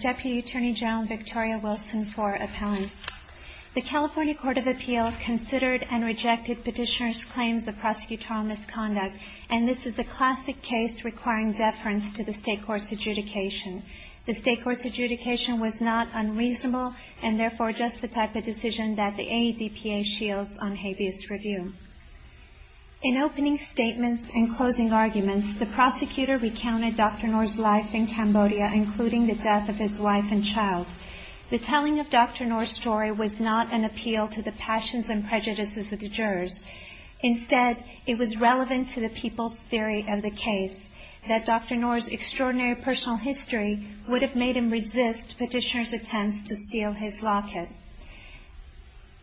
Deputy Attorney General Victoria Wilson for appellants. The California Court of Appeal considered and rejected petitioner's claims of prosecutorial misconduct, and this is the classic case requiring deference to the state court's adjudication. The state court's adjudication was not unreasonable and therefore just the type of decision that the AEDPA shields on habeas review. In opening statements and closing arguments, the prosecutor recounted Dr. Noor's life in Cambodia, including the death of his wife and child. The telling of Dr. Noor's story was not an appeal to the passions and prejudices of the jurors. Instead, it was relevant to the people's theory of the case, that Dr. Noor's extraordinary personal history would have made him resist petitioner's attempts to steal his locket.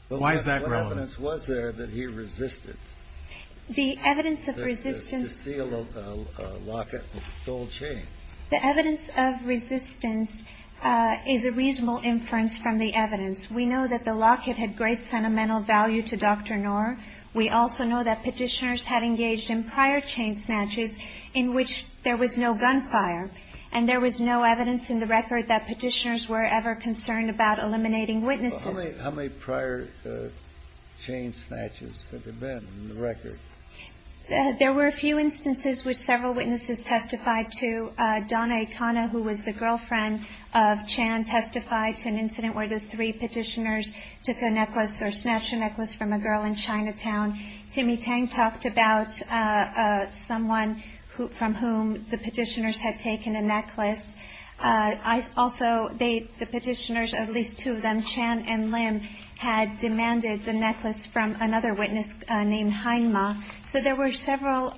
Why is that relevant? What evidence was there that he resisted? The evidence of resistance to steal a locket and stole a chain. The evidence of resistance is a reasonable inference from the evidence. We know that the locket had great sentimental value to Dr. Noor. We also know that petitioners had engaged in prior chain snatches in which there was no gunfire, and there was no evidence in the record that petitioners were ever concerned about eliminating witnesses. How many prior chain snatches have there been in the record? There were a few instances which several witnesses testified to. Donna Ikana, who was the girlfriend of Chan, testified to an incident where the three petitioners took a necklace or snatched a necklace from a girl in Chinatown. Timmy Tang talked about someone from whom the petitioners had taken a necklace. I also date the petitioners, at least two of them, Chan and Lim, had demanded the necklace from another witness named Heinma. So there were several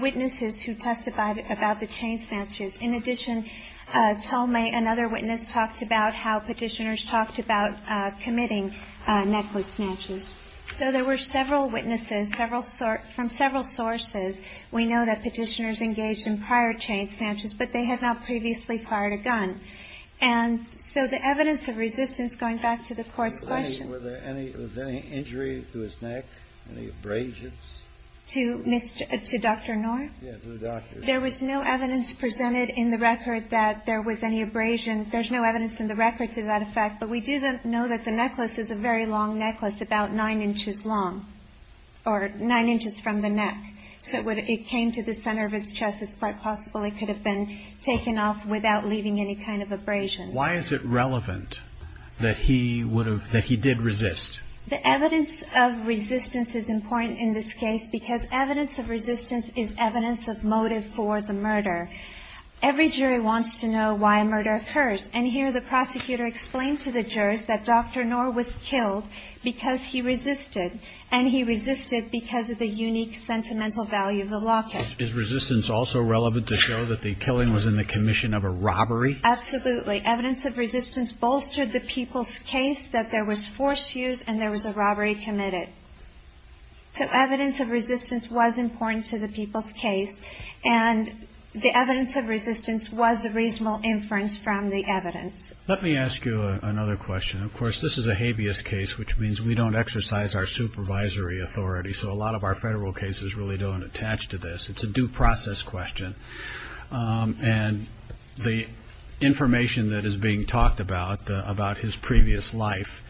witnesses who testified about the chain snatches. In addition, Talmay, another witness, talked about how petitioners talked about committing necklace snatches. So there were several witnesses, several sort of – from several sources. We know that petitioners engaged in prior chain snatches, but they had not previously fired a gun. And so the evidence of resistance, going back to the court's question – Were there any – was there any injury to his neck, any abrasions? To Mr. – to Dr. Knorr? Yes, to the doctor. There was no evidence presented in the record that there was any abrasion. There's no evidence in the record to that effect. But we do know that the necklace is a very long necklace, about 9 inches long, or 9 inches from the neck. So it came to the center of his chest. It's quite possible it could have been taken off without leaving any kind of abrasion. Why is it relevant that he would have – that he did resist? The evidence of resistance is important in this case, because evidence of resistance is evidence of motive for the murder. Every jury wants to know why a murder occurs. And here the prosecutor explained to the jurors that Dr. Knorr was killed because he resisted, and he resisted because of the unique sentimental value of the locket. Is resistance also relevant to show that the killing was in the commission of a robbery? Absolutely. Evidence of resistance bolstered the people's case that there was forced use and there was a robbery committed. So evidence of resistance was important to the people's case, and the evidence of resistance was a reasonable inference from the evidence. Let me ask you another question. Of course, this is a habeas case, which means we don't exercise our supervisory authority. So a lot of our federal cases really don't attach to this. It's a due process question. And the information that is being talked about, about his previous life,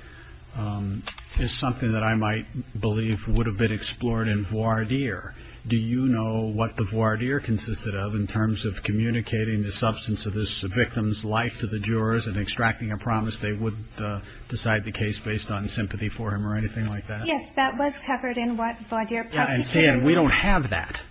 is something that I might believe would have been explored in voir dire. Do you know what the voir dire consisted of in terms of communicating the substance of this victim's life to the jurors and extracting a promise they would decide the case based on sympathy for him or anything like that? I'm saying we don't have that.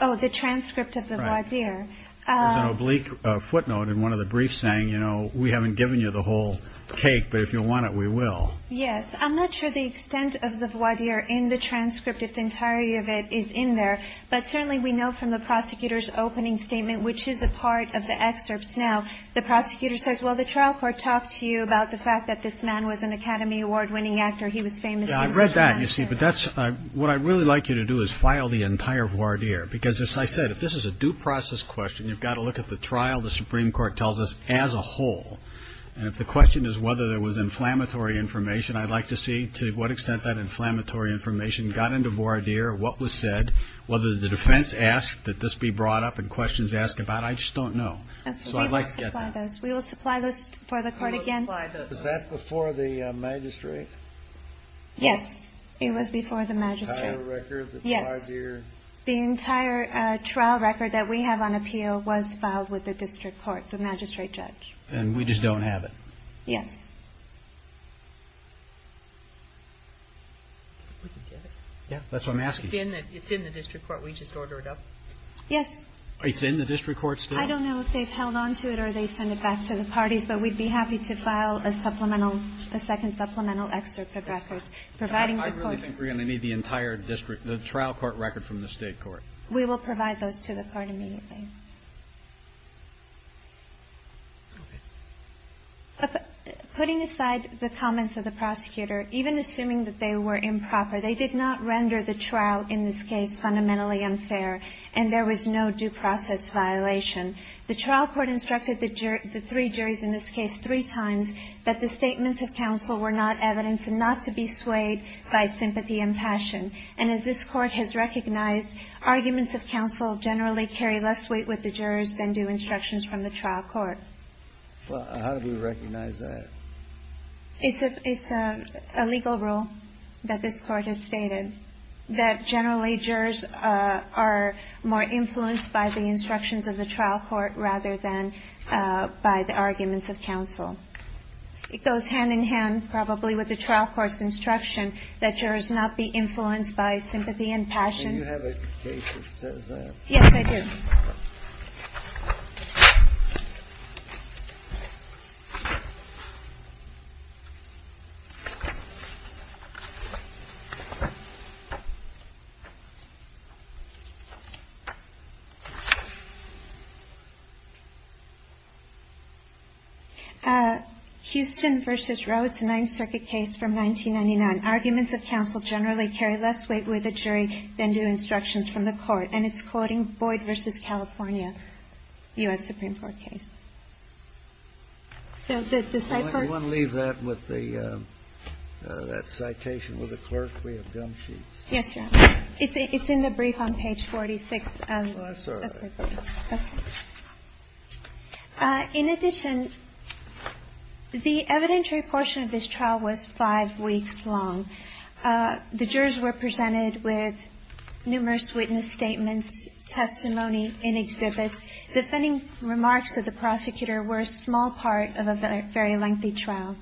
Oh, the transcript of the voir dire. There's an oblique footnote in one of the briefs saying, you know, we haven't given you the whole cake, but if you want it, we will. Yes. I'm not sure the extent of the voir dire in the transcript, if the entirety of it is in there. But certainly we know from the prosecutor's opening statement, which is a part of the excerpts now, the prosecutor says, well, the trial court talked to you about the fact that this man was an Academy Award winning actor. He was famous. I read that, you see, but that's what I really like you to do is file the entire voir dire, because as I said, if this is a due process question, you've got to look at the trial. The Supreme Court tells us as a whole. And if the question is whether there was inflammatory information, I'd like to see to what extent that inflammatory information got into voir dire, what was said, whether the defense asked that this be brought up and questions asked about. I just don't know. So I'd like to get those. We will supply those for the court again. Was that before the magistrate? Yes, it was before the magistrate. Yes. The entire trial record that we have on appeal was filed with the district court, the magistrate judge. And we just don't have it. Yes. Yeah, that's what I'm asking. It's in the district court. We just ordered it up. Yes. It's in the district court still? I don't know if they've held on to it or they send it back to the parties, but we'd be happy to file a supplemental, a second supplemental excerpt of records providing the court. I really think we're going to need the entire district, the trial court record from the state court. We will provide those to the court immediately. Putting aside the comments of the prosecutor, even assuming that they were improper, they did not render the trial in this case fundamentally unfair and there was no due process violation. The trial court instructed the three juries in this case three times that the statements of counsel were not evidence and not to be swayed by sympathy and passion. And as this court has recognized, arguments of counsel generally carry less weight with the jurors than do instructions from the trial court. Well, how do we recognize that? It's a legal rule that this court has stated that generally jurors are more influenced by the instructions of the trial court rather than by the arguments of counsel. It goes hand in hand probably with the trial court's instruction that jurors not be influenced by sympathy and passion. Do you have a case that says that? Yes, I do. Houston v. Rhodes, a Ninth Circuit case from 1999. Arguments of counsel generally carry less weight with the jury than do instructions from the court. And it's quoting Boyd v. California, U.S. Supreme Court case. So the citation with the clerk, we have gum sheets. Yes, it's in the brief on page 46. In addition, the evidentiary portion of this trial was five weeks long. The jurors were presented with numerous witness statements, testimony, and exhibits. Defending remarks of the prosecutor were a small part of a very lengthy trial.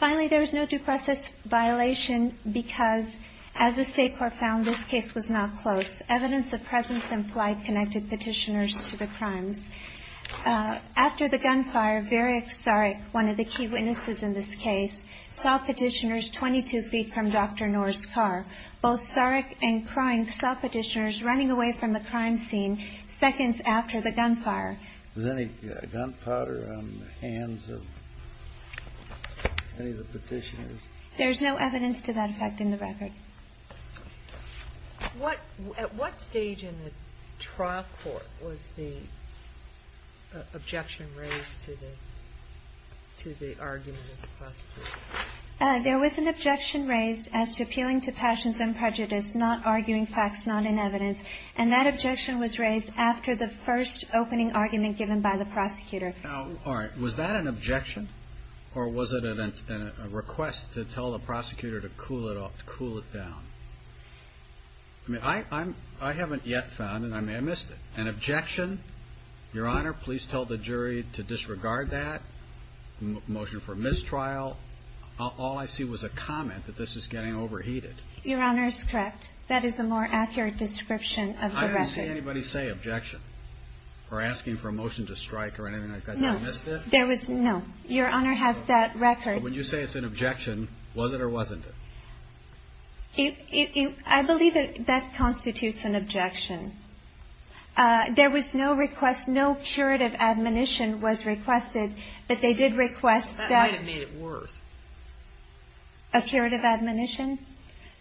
Finally, there was no due process violation because, as the state court found, this case was not close. The evidence of presence and flight connected Petitioners to the crimes. After the gunfire, Varick Starek, one of the key witnesses in this case, saw Petitioners 22 feet from Dr. Knorr's car. Both Starek and Krine saw Petitioners running away from the crime scene seconds after the gunfire. Was any gunpowder on the hands of any of the Petitioners? There's no evidence to that effect in the record. At what stage in the trial court was the objection raised to the argument of the prosecutor? There was an objection raised as to appealing to passions and prejudice, not arguing facts, not in evidence. And that objection was raised after the first opening argument given by the prosecutor. Was that an objection or was it a request to tell the prosecutor to cool it down? I haven't yet found it. I may have missed it. An objection? Your Honor, please tell the jury to disregard that. Motion for mistrial? All I see was a comment that this is getting overheated. Your Honor is correct. That is a more accurate description of the record. Did you see anybody say objection or asking for a motion to strike or anything like that? No. Your Honor has that record. When you say it's an objection, was it or wasn't it? I believe that constitutes an objection. There was no request, no curative admonition was requested, but they did request that. That might have made it worse. A curative admonition?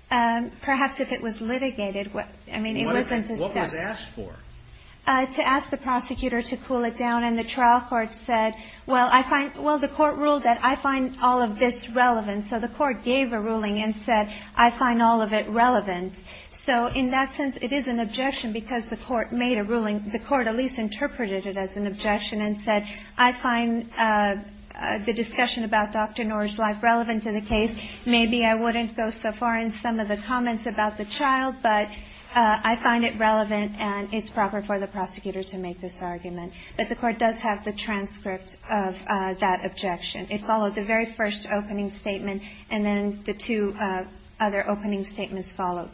Perhaps if it was litigated. I mean, it wasn't discussed. What was asked for? To ask the prosecutor to cool it down. And the trial court said, well, I find the court ruled that I find all of this relevant. So the court gave a ruling and said, I find all of it relevant. So in that sense, it is an objection because the court made a ruling. The court at least interpreted it as an objection and said, I find the discussion about Dr. Noor's life relevant to the case. Maybe I wouldn't go so far in some of the comments about the child, but I find it relevant and it's proper for the prosecutor to make this argument. But the court does have the transcript of that objection. It followed the very first opening statement and then the two other opening statements followed.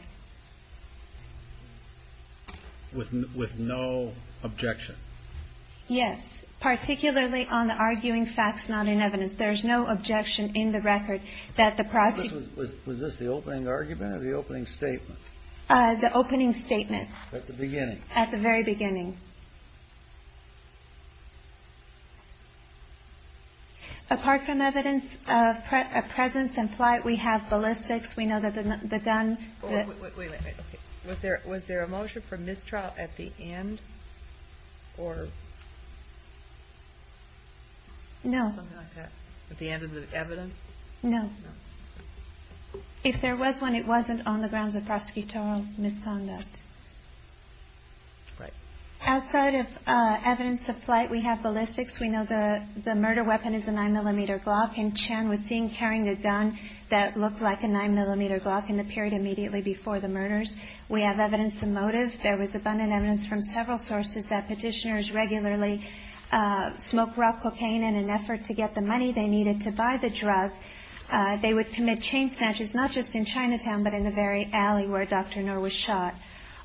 With no objection? Yes. Particularly on the arguing facts, not in evidence. There's no objection in the record that the prosecutor ---- Was this the opening argument or the opening statement? The opening statement. At the beginning. At the very beginning. Apart from evidence of presence and flight, we have ballistics. We know that the gun ---- Wait, wait, wait. Was there a motion for mistrial at the end or ---- No. At the end of the evidence? No. No. If there was one, it wasn't on the grounds of prosecutorial misconduct. Right. Outside of evidence of flight, we have ballistics. We know the murder weapon is a 9-millimeter Glock. And Chen was seen carrying a gun that looked like a 9-millimeter Glock in the period immediately before the murders. We have evidence of motive. There was abundant evidence from several sources that petitioners regularly smoked raw cocaine in an effort to get the money they needed to buy the drug. They would commit chain snatches, not just in Chinatown, but in the very alley where Dr. Knorr was shot.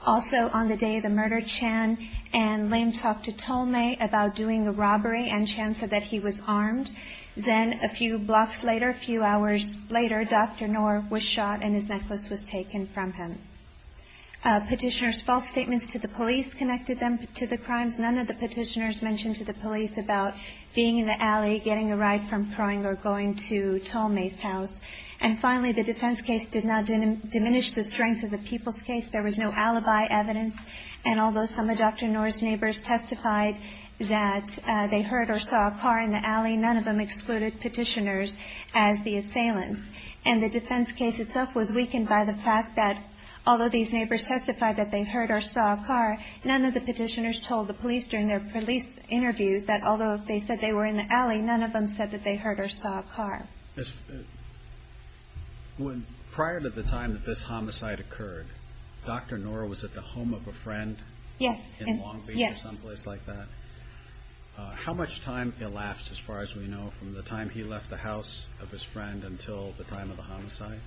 Also, on the day of the murder, Chen and Lim talked to Tolmei about doing the robbery, and Chen said that he was armed. Then a few blocks later, a few hours later, Dr. Knorr was shot and his necklace was taken from him. Petitioners' false statements to the police connected them to the crimes. None of the petitioners mentioned to the police about being in the alley, getting a ride from Kroinger, or going to Tolmei's house. And finally, the defense case did not diminish the strength of the people's case. There was no alibi evidence. And although some of Dr. Knorr's neighbors testified that they heard or saw a car in the alley, none of them excluded petitioners as the assailants. And the defense case itself was weakened by the fact that, although these neighbors testified that they heard or saw a car, none of the petitioners told the police during their police interviews that, although they said they were in the alley, none of them said that they heard or saw a car. Prior to the time that this homicide occurred, Dr. Knorr was at the home of a friend? Yes. In Long Beach or someplace like that? Yes. How much time elapsed, as far as we know, from the time he left the house of his friend until the time of the homicide?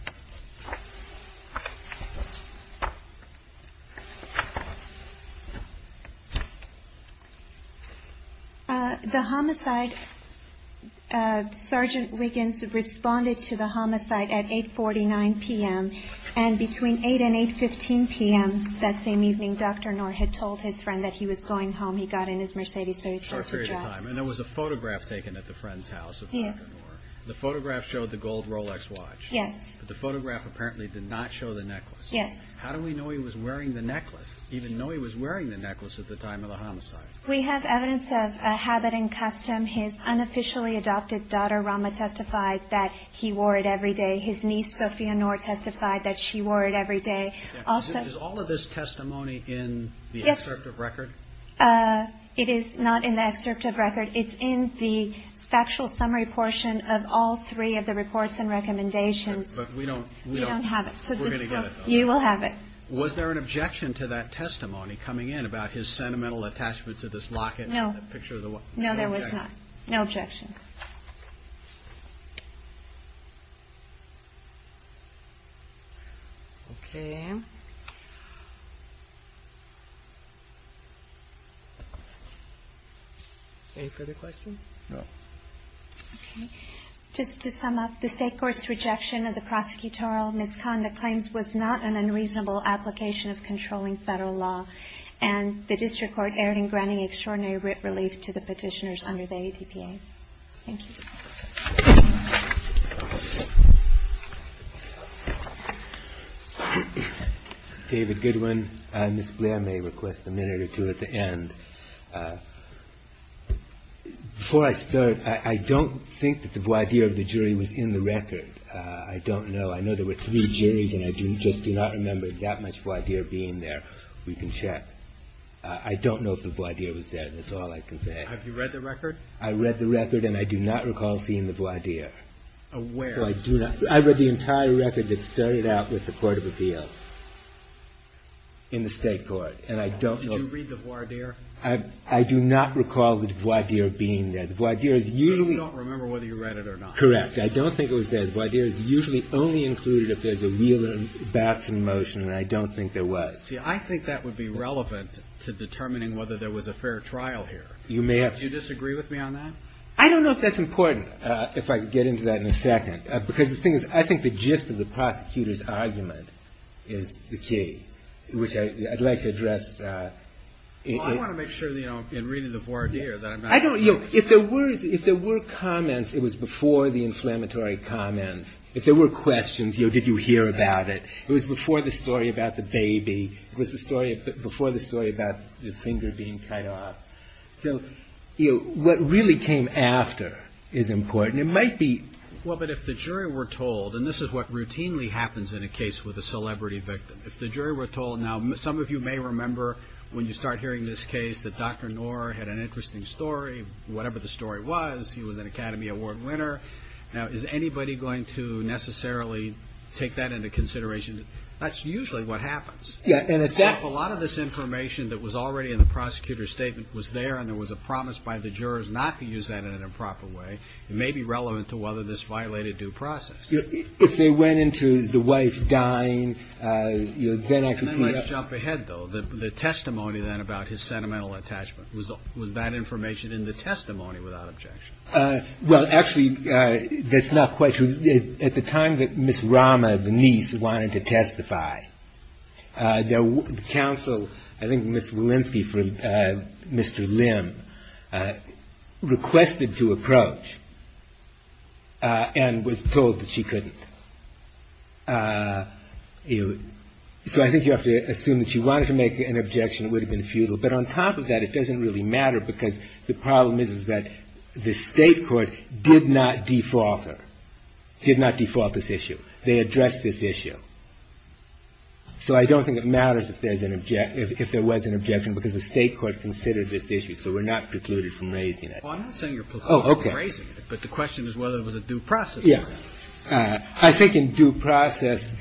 The homicide, Sergeant Wiggins responded to the homicide at 8.49 p.m., and between 8 and 8.15 p.m. that same evening, Dr. Knorr had told his friend that he was going home. He got in his Mercedes, so he started to drive. And there was a photograph taken at the friend's house of Dr. Knorr. The photograph showed the gold Rolex watch. Yes. But the photograph apparently did not show the necklace. Yes. How do we know he was wearing the necklace, even though he was wearing the necklace at the time of the homicide? We have evidence of a habit and custom. His unofficially adopted daughter, Rama, testified that he wore it every day. His niece, Sophia Knorr, testified that she wore it every day. Is all of this testimony in the excerpt of record? It is not in the excerpt of record. It's in the factual summary portion of all three of the reports and recommendations. But we don't have it. We're going to get it, though. You will have it. Was there an objection to that testimony coming in about his sentimental attachment to this locket? No. No, there was not. No objection. Okay. Any further questions? No. Okay. Just to sum up, the state court's rejection of the prosecutorial misconduct claims was not an unreasonable application of controlling federal law, and the district court erred in granting extraordinary relief to the petitioners under the ADPA. Thank you. David Goodwin. Ms. Blair may request a minute or two at the end. Before I start, I don't think that the voir dire of the jury was in the record. I don't know. I know there were three juries, and I just do not remember that much voir dire being there. We can check. I don't know if the voir dire was there. That's all I can say. Have you read the record? I read the record, and I do not recall seeing the voir dire. Where? I read the entire record that started out with the court of appeal in the state court, and I don't know. Did you read the voir dire? I do not recall the voir dire being there. The voir dire is usually – You don't remember whether you read it or not. Correct. I don't think it was there. The voir dire is usually only included if there's a real bouts in motion, and I don't think there was. See, I think that would be relevant to determining whether there was a fair trial here. You may have – Do you disagree with me on that? I don't know if that's important, if I could get into that in a second. Because the thing is, I think the gist of the prosecutor's argument is the key, which I'd like to address. Well, I want to make sure in reading the voir dire that I'm not – If there were comments, it was before the inflammatory comments. If there were questions, did you hear about it? It was before the story about the baby. It was before the story about the finger being cut off. So, you know, what really came after is important. It might be – Well, but if the jury were told, and this is what routinely happens in a case with a celebrity victim. If the jury were told – Now, some of you may remember when you start hearing this case that Dr. Knorr had an interesting story. Whatever the story was, he was an Academy Award winner. Now, is anybody going to necessarily take that into consideration? That's usually what happens. If a lot of this information that was already in the prosecutor's statement was there and there was a promise by the jurors not to use that in an improper way, it may be relevant to whether this violated due process. If they went into the wife dying, then I could see – Let's jump ahead, though. The testimony then about his sentimental attachment, was that information in the testimony without objection? Well, actually, that's not quite true. At the time that Miss Rama, the niece, wanted to testify, the counsel, I think Miss Walensky for Mr. Lim, requested to approach and was told that she couldn't. So I think you have to assume that she wanted to make an objection. It would have been futile. But on top of that, it doesn't really matter because the problem is that the state court did not default her, did not default this issue. They addressed this issue. So I don't think it matters if there was an objection because the state court considered this issue, so we're not precluded from raising it. I'm not saying you're precluded from raising it, but the question is whether it was a due process. I think in due process,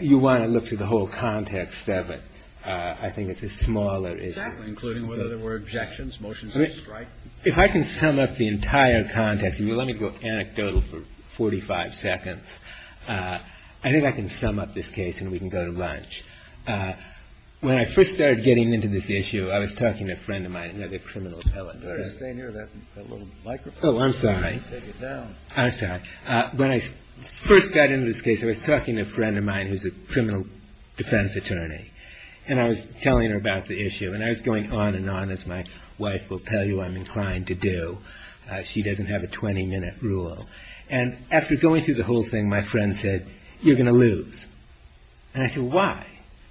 you want to look through the whole context of it. I think it's a smaller issue. Including whether there were objections, motions of strike? If I can sum up the entire context, and let me go anecdotal for 45 seconds, I think I can sum up this case and we can go to lunch. When I first started getting into this issue, I was talking to a friend of mine, another criminal appellate. You better stay near that little microphone. Oh, I'm sorry. Take it down. I'm sorry. When I first got into this case, I was talking to a friend of mine who's a criminal defense attorney, and I was telling her about the issue. And I was going on and on, as my wife will tell you I'm inclined to do. She doesn't have a 20-minute rule. And after going through the whole thing, my friend said, you're going to lose. And I said, why?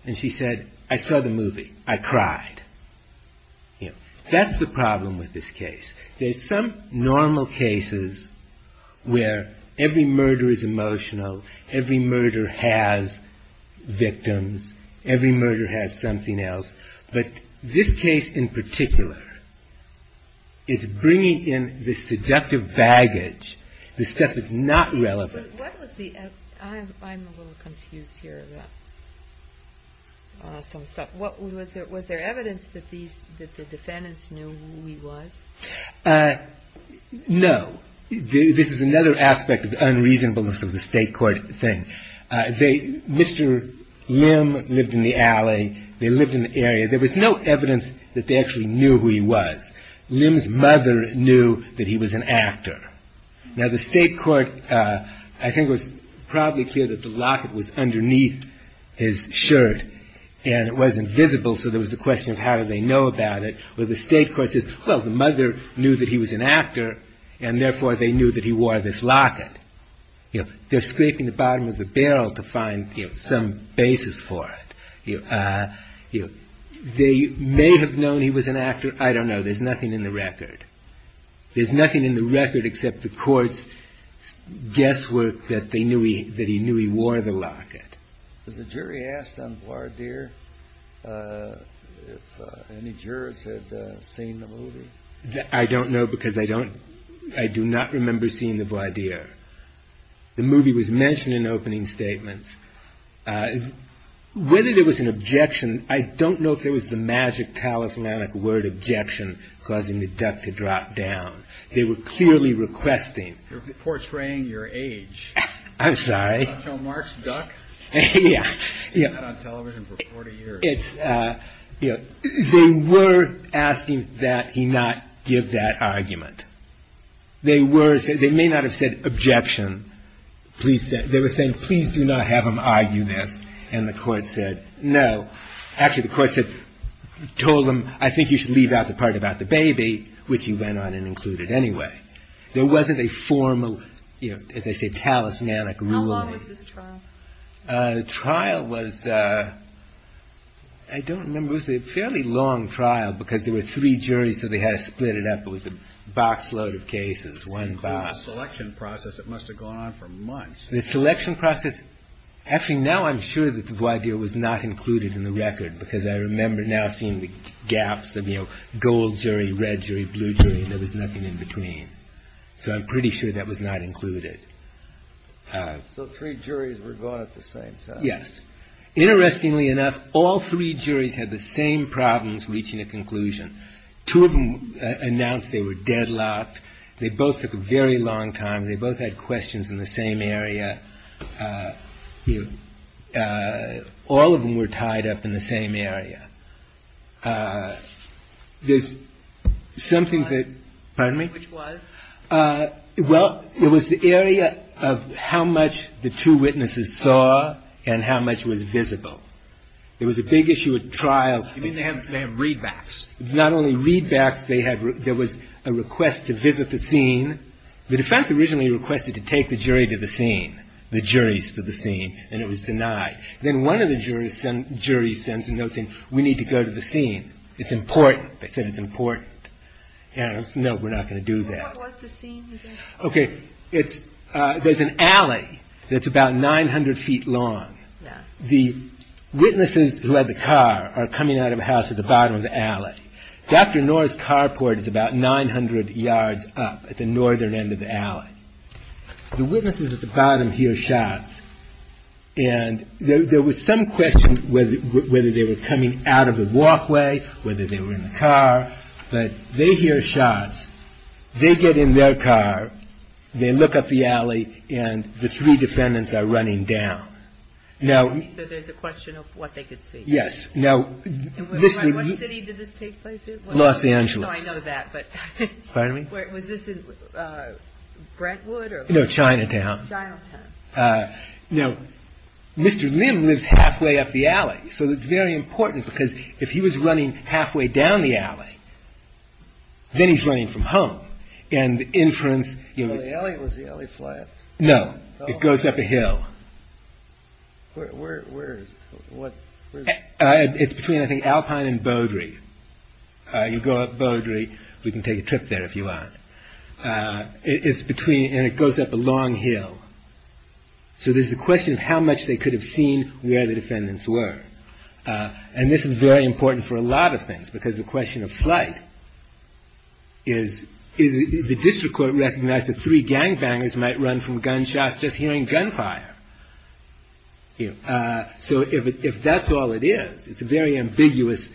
And she said, I saw the movie. I cried. That's the problem with this case. There's some normal cases where every murder is emotional, every murder has victims, every murder has something else, but this case in particular is bringing in the seductive baggage, the stuff that's not relevant. I'm a little confused here about some stuff. Was there evidence that the defendants knew who he was? No. This is another aspect of the unreasonableness of the state court thing. Mr. Lim lived in the alley. They lived in the area. There was no evidence that they actually knew who he was. Lim's mother knew that he was an actor. Now, the state court, I think it was probably clear that the locket was underneath his shirt and it wasn't visible, so there was the question of how did they know about it, where the state court says, well, the mother knew that he was an actor and therefore they knew that he wore this locket. They're scraping the bottom of the barrel to find some basis for it. They may have known he was an actor. I don't know. There's nothing in the record. There's nothing in the record except the court's guesswork that he knew he wore the locket. Was the jury asked on voir dire if any jurors had seen the movie? I don't know because I do not remember seeing the voir dire. The movie was mentioned in opening statements. Whether there was an objection, I don't know if there was the magic talismanic word objection causing the duck to drop down. They were clearly requesting. You're portraying your age. I'm sorry. Don't show Mark's duck. Yeah. It's not on television for 40 years. They were asking that he not give that argument. They may not have said objection. They were saying, please do not have him argue this. And the court said, no. Actually, the court said, told him, I think you should leave out the part about the baby, which he went on and included anyway. There wasn't a formal, as I said, talismanic ruling. How long was this trial? The trial was, I don't remember. It was a fairly long trial because there were three juries so they had to split it up. It was a box load of cases. One box. The selection process, it must have gone on for months. The selection process. Actually, now I'm sure that the idea was not included in the record because I remember now seeing the gaps of, you know, gold jury, red jury, blue jury. There was nothing in between. So I'm pretty sure that was not included. So three juries were going at the same time. Yes. Interestingly enough, all three juries had the same problems reaching a conclusion. Two of them announced they were deadlocked. They both took a very long time. They both had questions in the same area. All of them were tied up in the same area. There's something that, pardon me? Which was? Well, it was the area of how much the two witnesses saw and how much was visible. It was a big issue at trial. You mean they have readbacks? Not only readbacks. There was a request to visit the scene. The defense originally requested to take the jury to the scene, the juries to the scene, and it was denied. Then one of the juries sends a note saying, we need to go to the scene. It's important. They said it's important. No, we're not going to do that. What was the scene? Okay. There's an alley that's about 900 feet long. The witnesses who had the car are coming out of a house at the bottom of the alley. Dr. Knorr's carport is about 900 yards up at the northern end of the alley. The witnesses at the bottom hear shots, and there was some question whether they were coming out of the walkway, whether they were in the car, but they hear shots. They get in their car. They look up the alley, and the three defendants are running down. So there's a question of what they could see. Yes. What city did this take place in? Los Angeles. I know that. Pardon me? Was this in Brentwood? No, Chinatown. Chinatown. Now, Mr. Lim lives halfway up the alley, so it's very important, because if he was running halfway down the alley, then he's running from home, and the inference... Was the alley flat? No, it goes up a hill. Where is it? It's between, I think, Alpine and Beaudry. You go up Beaudry. We can take a trip there if you want. It's between... And it goes up a long hill. So there's a question of how much they could have seen where the defendants were. And this is very important for a lot of things, because the question of flight is... The district court recognized that three gangbangers might run from gunshots just hearing gunfire. So if that's all it is, it's a very ambiguous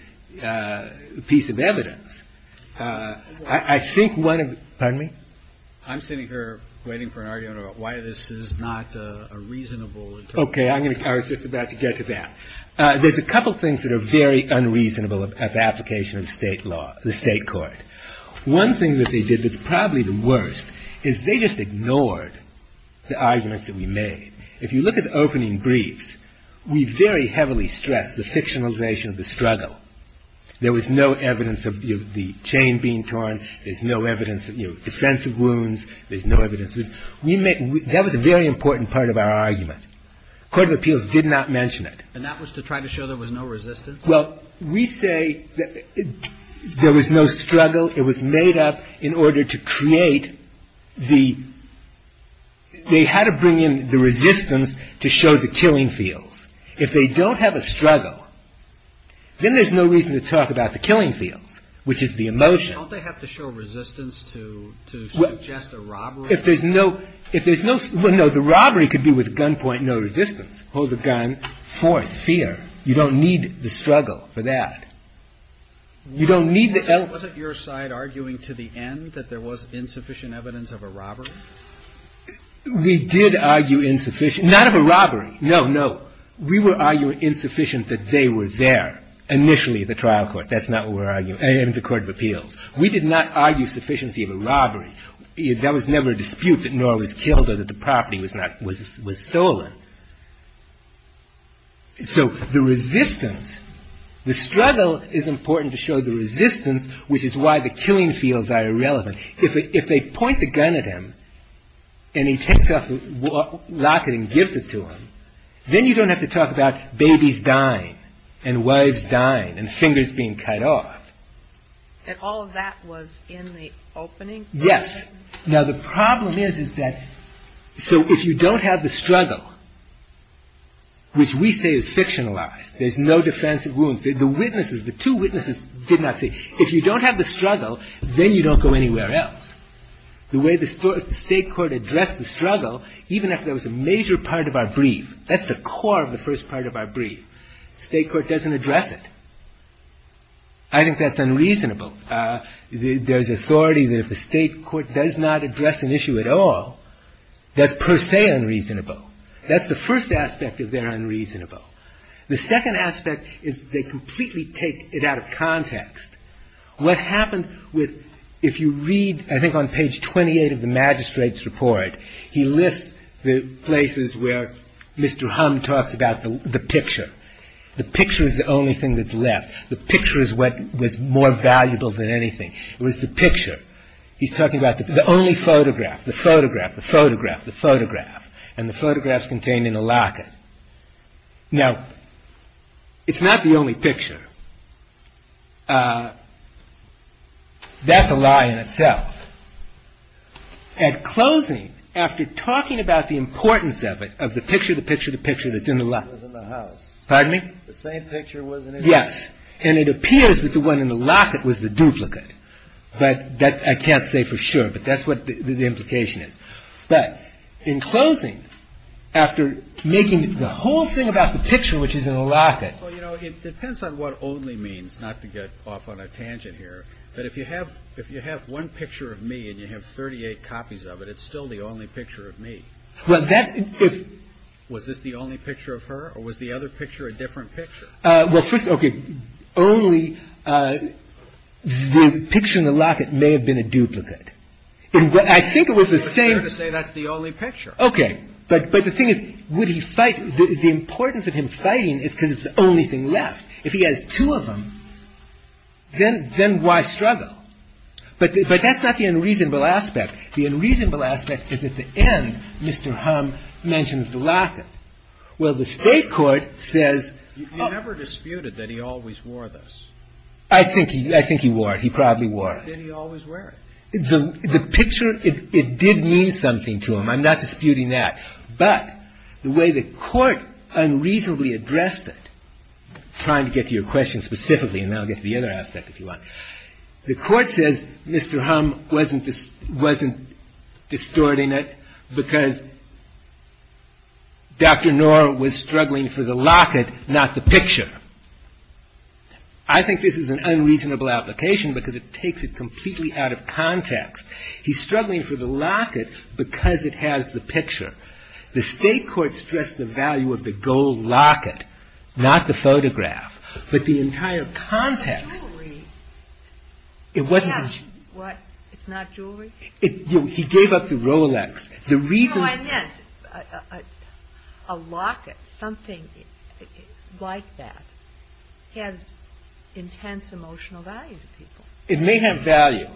piece of evidence. I think one of... Pardon me? I'm sitting here waiting for an argument about why this is not a reasonable interpretation. Okay, I was just about to get to that. There's a couple things that are very unreasonable at the application of state law, the state court. One thing that they did that's probably the worst is they just ignored the arguments that we made. If you look at the opening briefs, we very heavily stress the fictionalization of the struggle. There was no evidence of the chain being torn. There's no evidence of defensive wounds. There's no evidence... That was a very important part of our argument. Court of Appeals did not mention it. And that was to try to show there was no resistance? Well, we say there was no struggle. It was made up in order to create the... ...resistance to show the killing fields. If they don't have a struggle, then there's no reason to talk about the killing fields, which is the emotion. Don't they have to show resistance to suggest a robbery? If there's no... Well, no, the robbery could be with gunpoint, no resistance. Hold the gun, force, fear. You don't need the struggle for that. You don't need the... Wasn't your side arguing to the end that there was insufficient evidence of a robbery? We did argue insufficient... Not of a robbery. No, no. We were arguing insufficient that they were there. Initially, the trial court. That's not what we're arguing. And the Court of Appeals. We did not argue sufficiency of a robbery. That was never a dispute that Norah was killed or that the property was stolen. So the resistance... The struggle is important to show the resistance, which is why the killing fields are irrelevant. If they point the gun at him and he takes off the locket and gives it to him, then you don't have to talk about babies dying and wives dying and fingers being cut off. And all of that was in the opening? Yes. Now, the problem is, is that... So if you don't have the struggle, which we say is fictionalized, there's no defense of wounds. The witnesses, the two witnesses did not say... If you don't have the struggle, then you don't go anywhere else. The way the state court addressed the struggle, even after there was a major part of our brief, that's the core of the first part of our brief. State court doesn't address it. I think that's unreasonable. There's authority that if the state court does not address an issue at all, that's per se unreasonable. That's the first aspect of they're unreasonable. The second aspect is they completely take it out of context. What happened with... If you read, I think, on page 28 of the magistrate's report, he lists the places where Mr. Humm talks about the picture. The picture is the only thing that's left. The picture is what was more valuable than anything. It was the picture. He's talking about the only photograph, the photograph, the photograph, the photograph, and the photograph's contained in a locket. Now, it's not the only picture. That's a lie in itself. At closing, after talking about the importance of it, of the picture, the picture, the picture that's in the locket... Pardon me? Yes. And it appears that the one in the locket was the duplicate. But I can't say for sure. But that's what the implication is. But in closing, after making the whole thing about the picture, which is in the locket... Well, you know, it depends on what only means, not to get off on a tangent here. But if you have one picture of me, and you have 38 copies of it, it's still the only picture of me. Well, that... Was this the only picture of her, or was the other picture a different picture? Well, first... Okay. Only the picture in the locket may have been a duplicate. I think it was the same... I'm just trying to say that's the only picture. Okay. But the thing is, would he fight... The importance of him fighting is because it's the only thing left. If he has two of them, then why struggle? But that's not the unreasonable aspect. The unreasonable aspect is at the end, Mr. Humm mentions the locket. Well, the State court says... He never disputed that he always wore this. I think he wore it. He probably wore it. Did he always wear it? The picture, it did mean something to him. I'm not disputing that. But the way the court unreasonably addressed it... I'm trying to get to your question specifically, and then I'll get to the other aspect if you want. The court says Mr. Humm wasn't distorting it because Dr. Knorr was struggling for the locket, not the picture. I think this is an unreasonable application because it takes it completely out of context. He's struggling for the locket because it has the picture. The State court stressed the value of the gold locket, not the photograph. But the entire context... The jewelry... It wasn't... What? It's not jewelry? He gave up the Rolex. The reason... No, I meant a locket, something like that, has intense emotional value to people. It may have value.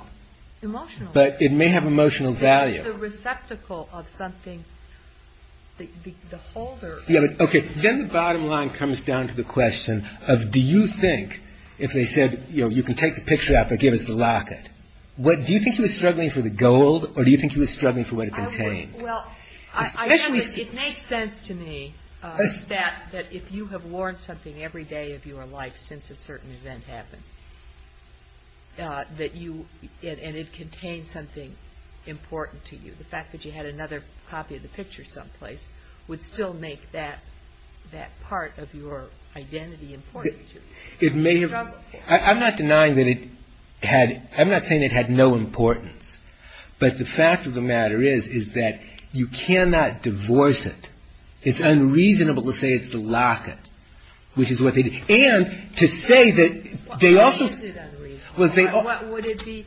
Emotional value. But it may have emotional value. The receptacle of something, the holder... Then the bottom line comes down to the question of, do you think, if they said, you can take the picture out, but give us the locket, do you think he was struggling for the gold or do you think he was struggling for what it contained? It makes sense to me that if you have worn something every day of your life since a certain event happened, and it contains something important to you, the fact that you had another copy of the picture someplace would still make that part of your identity important to you. It may have... I'm not denying that it had... I'm not saying it had no importance. But the fact of the matter is, is that you cannot divorce it. It's unreasonable to say it's the locket, which is what they did. And to say that they also... Why is it unreasonable? Would it be...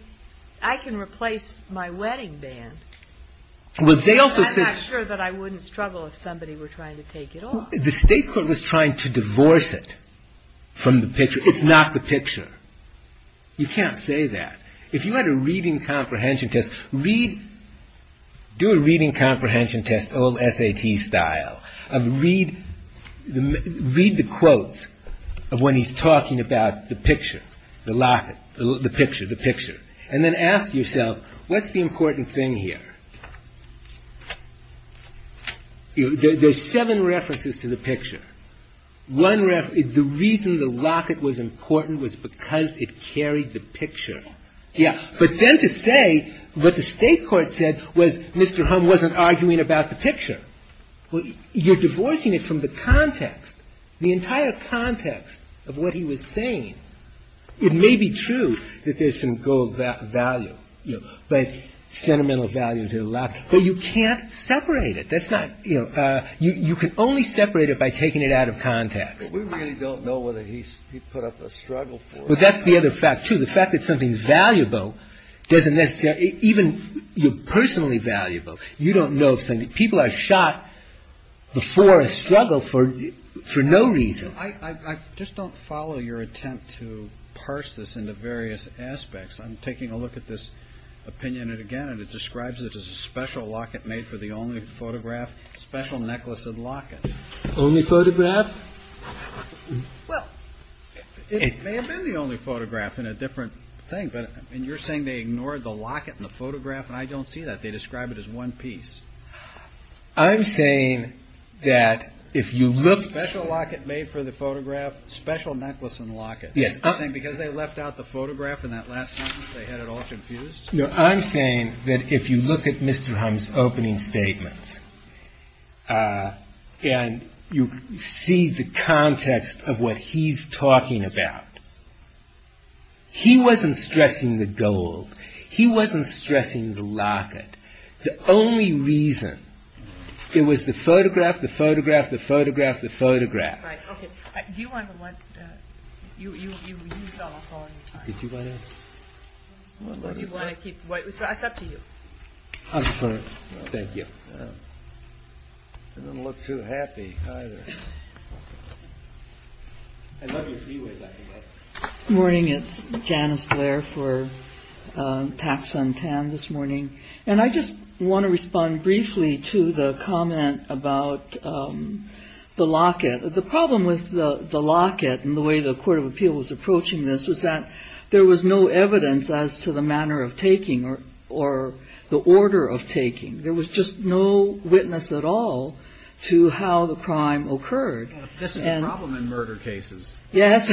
I can replace my wedding band. I'm not sure that I wouldn't struggle if somebody were trying to take it off. The state court was trying to divorce it from the picture. It's not the picture. You can't say that. If you had a reading comprehension test, read... Do a reading comprehension test, old SAT style. Read the quotes of when he's talking about the picture, the locket, the picture, the picture. And then ask yourself, what's the important thing here? There's seven references to the picture. One reference... The reason the locket was important was because it carried the picture. Yeah. But then to say what the state court said was Mr. Humm wasn't arguing about the picture. You're divorcing it from the context. The entire context of what he was saying. It may be true that there's some gold value. But sentimental value to the locket. But you can't separate it. That's not... You can only separate it by taking it out of context. But we really don't know whether he put up a struggle for it. But that's the other fact, too. The fact that something's valuable doesn't necessarily... Even you're personally valuable. You don't know if something... People are shot before a struggle for no reason. I just don't follow your attempt to parse this into various aspects. I'm taking a look at this opinion again and it describes it as a special locket made for the only photograph, special necklace and locket. Only photograph? Well, it may have been the only photograph in a different thing. And you're saying they ignored the locket in the photograph and I don't see that. They describe it as one piece. I'm saying that if you look... Special locket made for the photograph, special necklace and locket. You're saying because they left out the photograph in that last sentence, they had it all confused? No, I'm saying that if you look at Mr. Humm's opening statements and you see the context of what he's talking about, he wasn't stressing the gold. He wasn't stressing the locket. The only reason it was the photograph, the photograph, the photograph, the photograph. Right, okay. Do you want to let... You used all my time. Did you want to... You want to keep... It's up to you. I'm fine. Thank you. I don't look too happy either. I love your freeway back and forth. Good morning. It's Janice Blair for Tax Sun Tan this morning. And I just want to respond briefly to the comment about the locket. The problem with the locket and the way the court of appeal was approaching this was that there was no evidence as to the manner of taking or the order of taking. There was just no witness at all to how the crime occurred. That's the problem in murder cases. Yes.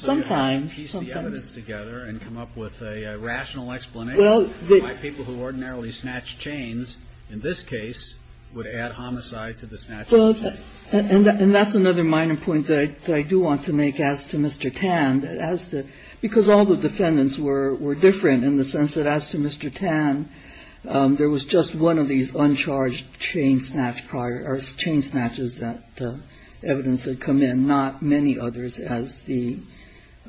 Sometimes. So to piece the evidence together and come up with a rational explanation for why people who ordinarily snatch chains, in this case, would add homicide to the snatch of the chain. And that's another minor point that I do want to make as to Mr. Tan, because all the defendants were different in the sense that as to Mr. Tan, there was just one of these uncharged chain snatch prior, or chain snatches that evidence had come in, and not many others as the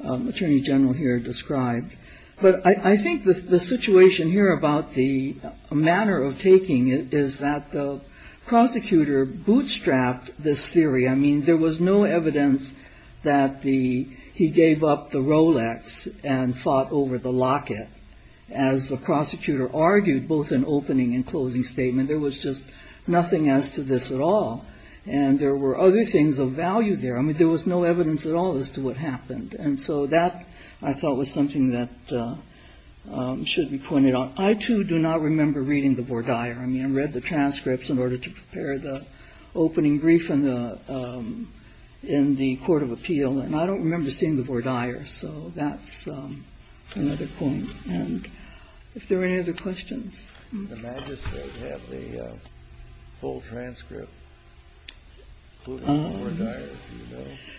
attorney general here described. But I think the situation here about the manner of taking it is that the prosecutor bootstrapped this theory. I mean, there was no evidence that he gave up the Rolex and fought over the locket. As the prosecutor argued, both in opening and closing statement, there was just nothing as to this at all. And there were other things of value there. I mean, there was no evidence at all as to what happened. And so that, I thought, was something that should be pointed out. I, too, do not remember reading the Vordaer. I mean, I read the transcripts in order to prepare the opening brief in the court of appeal, and I don't remember seeing the Vordaer. So that's another point. And if there are any other questions?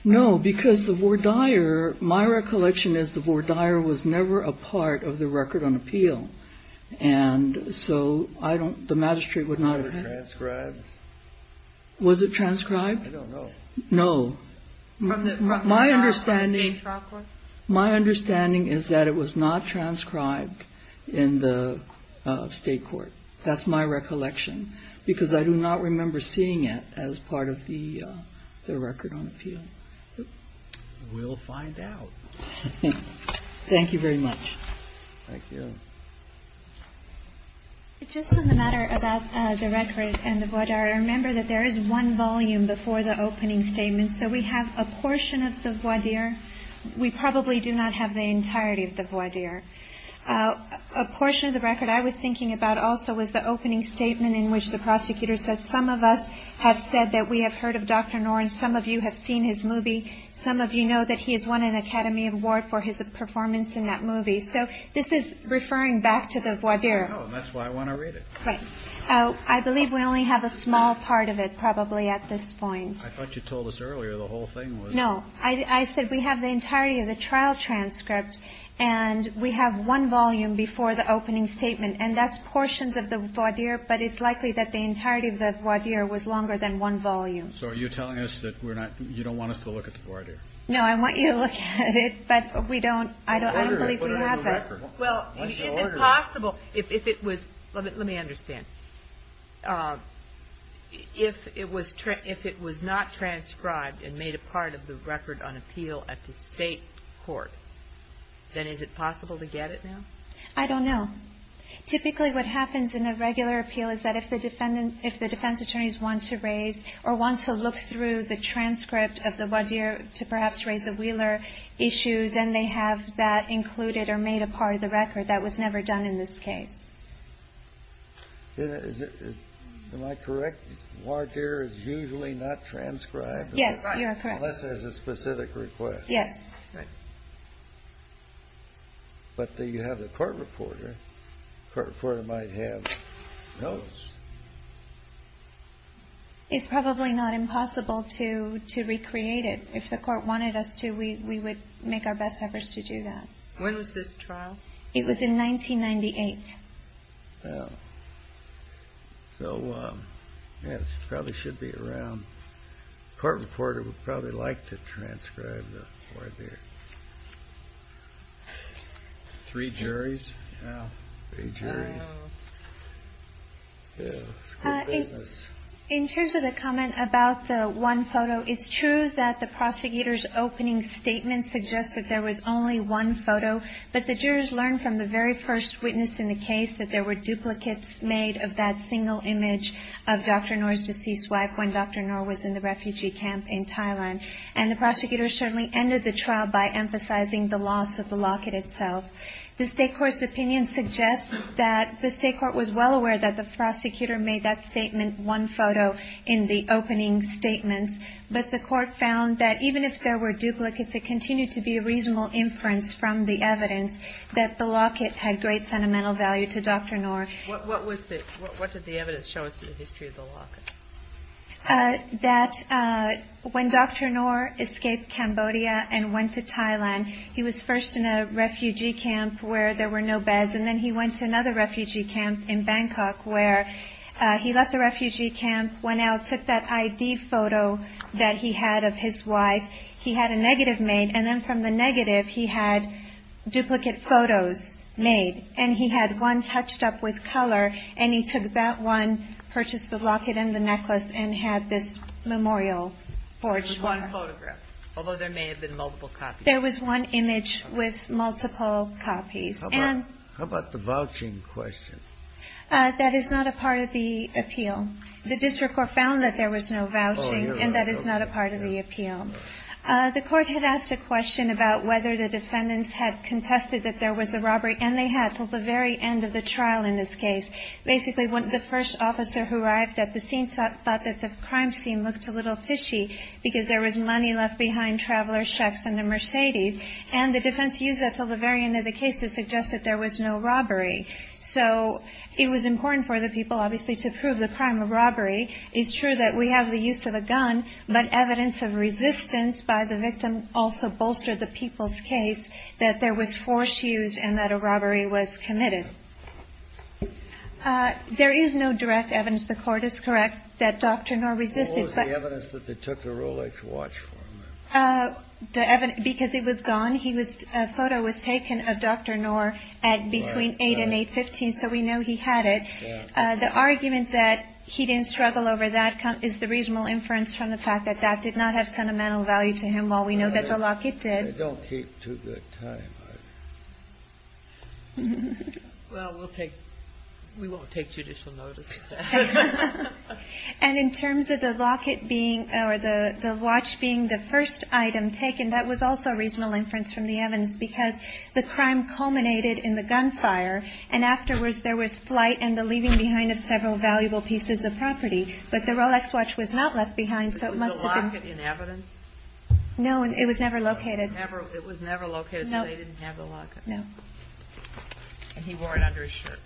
No, because the Vordaer, my recollection is the Vordaer was never a part of the record on appeal, and so I don't the magistrate would not have had. Was it transcribed? I don't know. No. My understanding. My understanding is that it was not transcribed in the statute. That's my recollection, because I do not remember seeing it as part of the record on appeal. We'll find out. Thank you very much. Thank you. Just on the matter about the record and the Vordaer, remember that there is one volume before the opening statement. So we have a portion of the Vordaer. We probably do not have the entirety of the Vordaer. A portion of the record I was thinking about also was the opening statement in which the prosecutor says, some of us have said that we have heard of Dr. Noren. Some of you have seen his movie. Some of you know that he has won an Academy Award for his performance in that movie. So this is referring back to the Vordaer. I know, and that's why I want to read it. Right. I believe we only have a small part of it probably at this point. I thought you told us earlier the whole thing was. No. I said we have the entirety of the trial transcript, and we have one volume before the opening statement. And that's portions of the Vordaer, but it's likely that the entirety of the Vordaer was longer than one volume. So are you telling us that you don't want us to look at the Vordaer? No, I want you to look at it, but we don't. I don't believe we have it. Well, is it possible if it was. Let me understand. If it was not transcribed and made a part of the record on appeal at the state court, then is it possible to get it now? I don't know. Typically what happens in a regular appeal is that if the defense attorneys want to raise or want to look through the transcript of the Vordaer to perhaps raise a Wheeler issue, then they have that included or made a part of the record. That was never done in this case. Am I correct? The Vordaer is usually not transcribed? Yes, you are correct. Unless there's a specific request. But you have the court reporter. The court reporter might have notes. It's probably not impossible to recreate it. If the court wanted us to, we would make our best efforts to do that. When was this trial? It was in 1998. So, yes, it probably should be around. The court reporter would probably like to transcribe the Vordaer. Three juries? Three juries. In terms of the comment about the one photo, it's true that the prosecutor's opening statement suggests that there was only one photo, but the jurors learned from the very first witness in the case that there were duplicates made of that single image of Dr. Noor's deceased wife when Dr. Noor was in the refugee camp in Thailand. And the prosecutor certainly ended the trial by emphasizing the loss of the locket itself. The state court's opinion suggests that the state court was well aware that the prosecutor made that statement one photo in the opening statements, but the court found that even if there were duplicates, it continued to be a reasonable inference from the evidence that the locket had great sentimental value to Dr. Noor. What did the evidence show us in the history of the locket? That when Dr. Noor escaped Cambodia and went to Thailand, he was first in a refugee camp where there were no beds, and then he went to another refugee camp in Bangkok where he left the refugee camp, went out, took that ID photo that he had of his wife. He had a negative made, and then from the negative he had duplicate photos made, and he had one touched up with color, and he took that one, purchased the locket and the necklace, and had this memorial forged for her. There was one photograph, although there may have been multiple copies. There was one image with multiple copies. How about the vouching question? That is not a part of the appeal. The district court found that there was no vouching, and that is not a part of the The court had asked a question about whether the defendants had contested that there was a robbery, and they had until the very end of the trial in this case. Basically, the first officer who arrived at the scene thought that the crime scene looked a little fishy because there was money left behind, traveler's checks, and a Mercedes, and the defense used that until the very end of the case to suggest that there was no robbery. So it was important for the people, obviously, to prove the crime of robbery. It's true that we have the use of a gun, but evidence of resistance by the victim also bolstered the people's case that there was force used and that a robbery was committed. There is no direct evidence, the court is correct, that Dr. Knorr resisted. What was the evidence that they took the Rolex watch from him? Because it was gone. A photo was taken of Dr. Knorr at between 8 and 8.15, so we know he had it. The argument that he didn't struggle over that is the reasonable inference from the fact that that did not have sentimental value to him, while we know that the locket did. They don't keep too good time, either. Well, we'll take we won't take judicial notice. And in terms of the locket being or the watch being the first item taken, that was also a reasonable inference from the evidence because the crime culminated in the gunfire, and afterwards there was flight and the leaving behind of several valuable pieces of property. But the Rolex watch was not left behind, so it must have been. Was the locket in evidence? No, it was never located. It was never located, so they didn't have the locket. No. And he wore it under his shirt.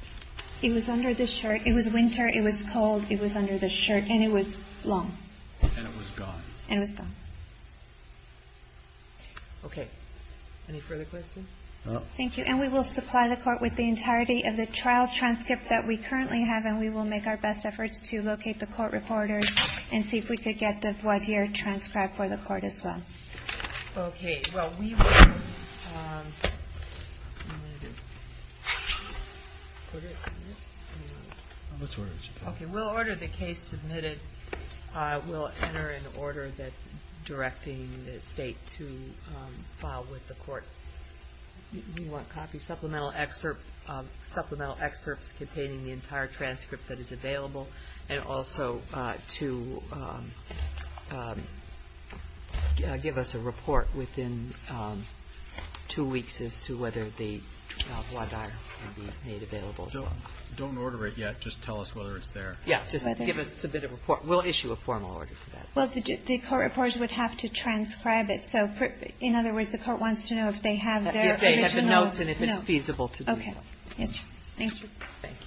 It was under the shirt. It was winter, it was cold, it was under the shirt, and it was long. And it was gone. And it was gone. Okay. Any further questions? No. Thank you. And we will supply the court with the entirety of the trial transcript that we currently have, and we will make our best efforts to locate the court recorders and see if we could get the voir dire transcribed for the court as well. Okay. Well, we will order the case submitted. We'll enter an order directing the state to file with the court. You want copies? Supplemental excerpts containing the entire transcript that is available, and also to give us a report within two weeks as to whether the voir dire can be made available. Don't order it yet. Just tell us whether it's there. Yeah. Just give us a bit of a report. We'll issue a formal order for that. Well, the court reporters would have to transcribe it. So in other words, the court wants to know if they have their original notes. If they have the notes and if it's feasible to do so. Okay. Yes. Thank you. Thank you.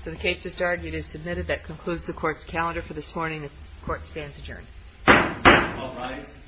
So the case just argued is submitted. That concludes the Court's calendar for this morning. The Court stands adjourned. All rise.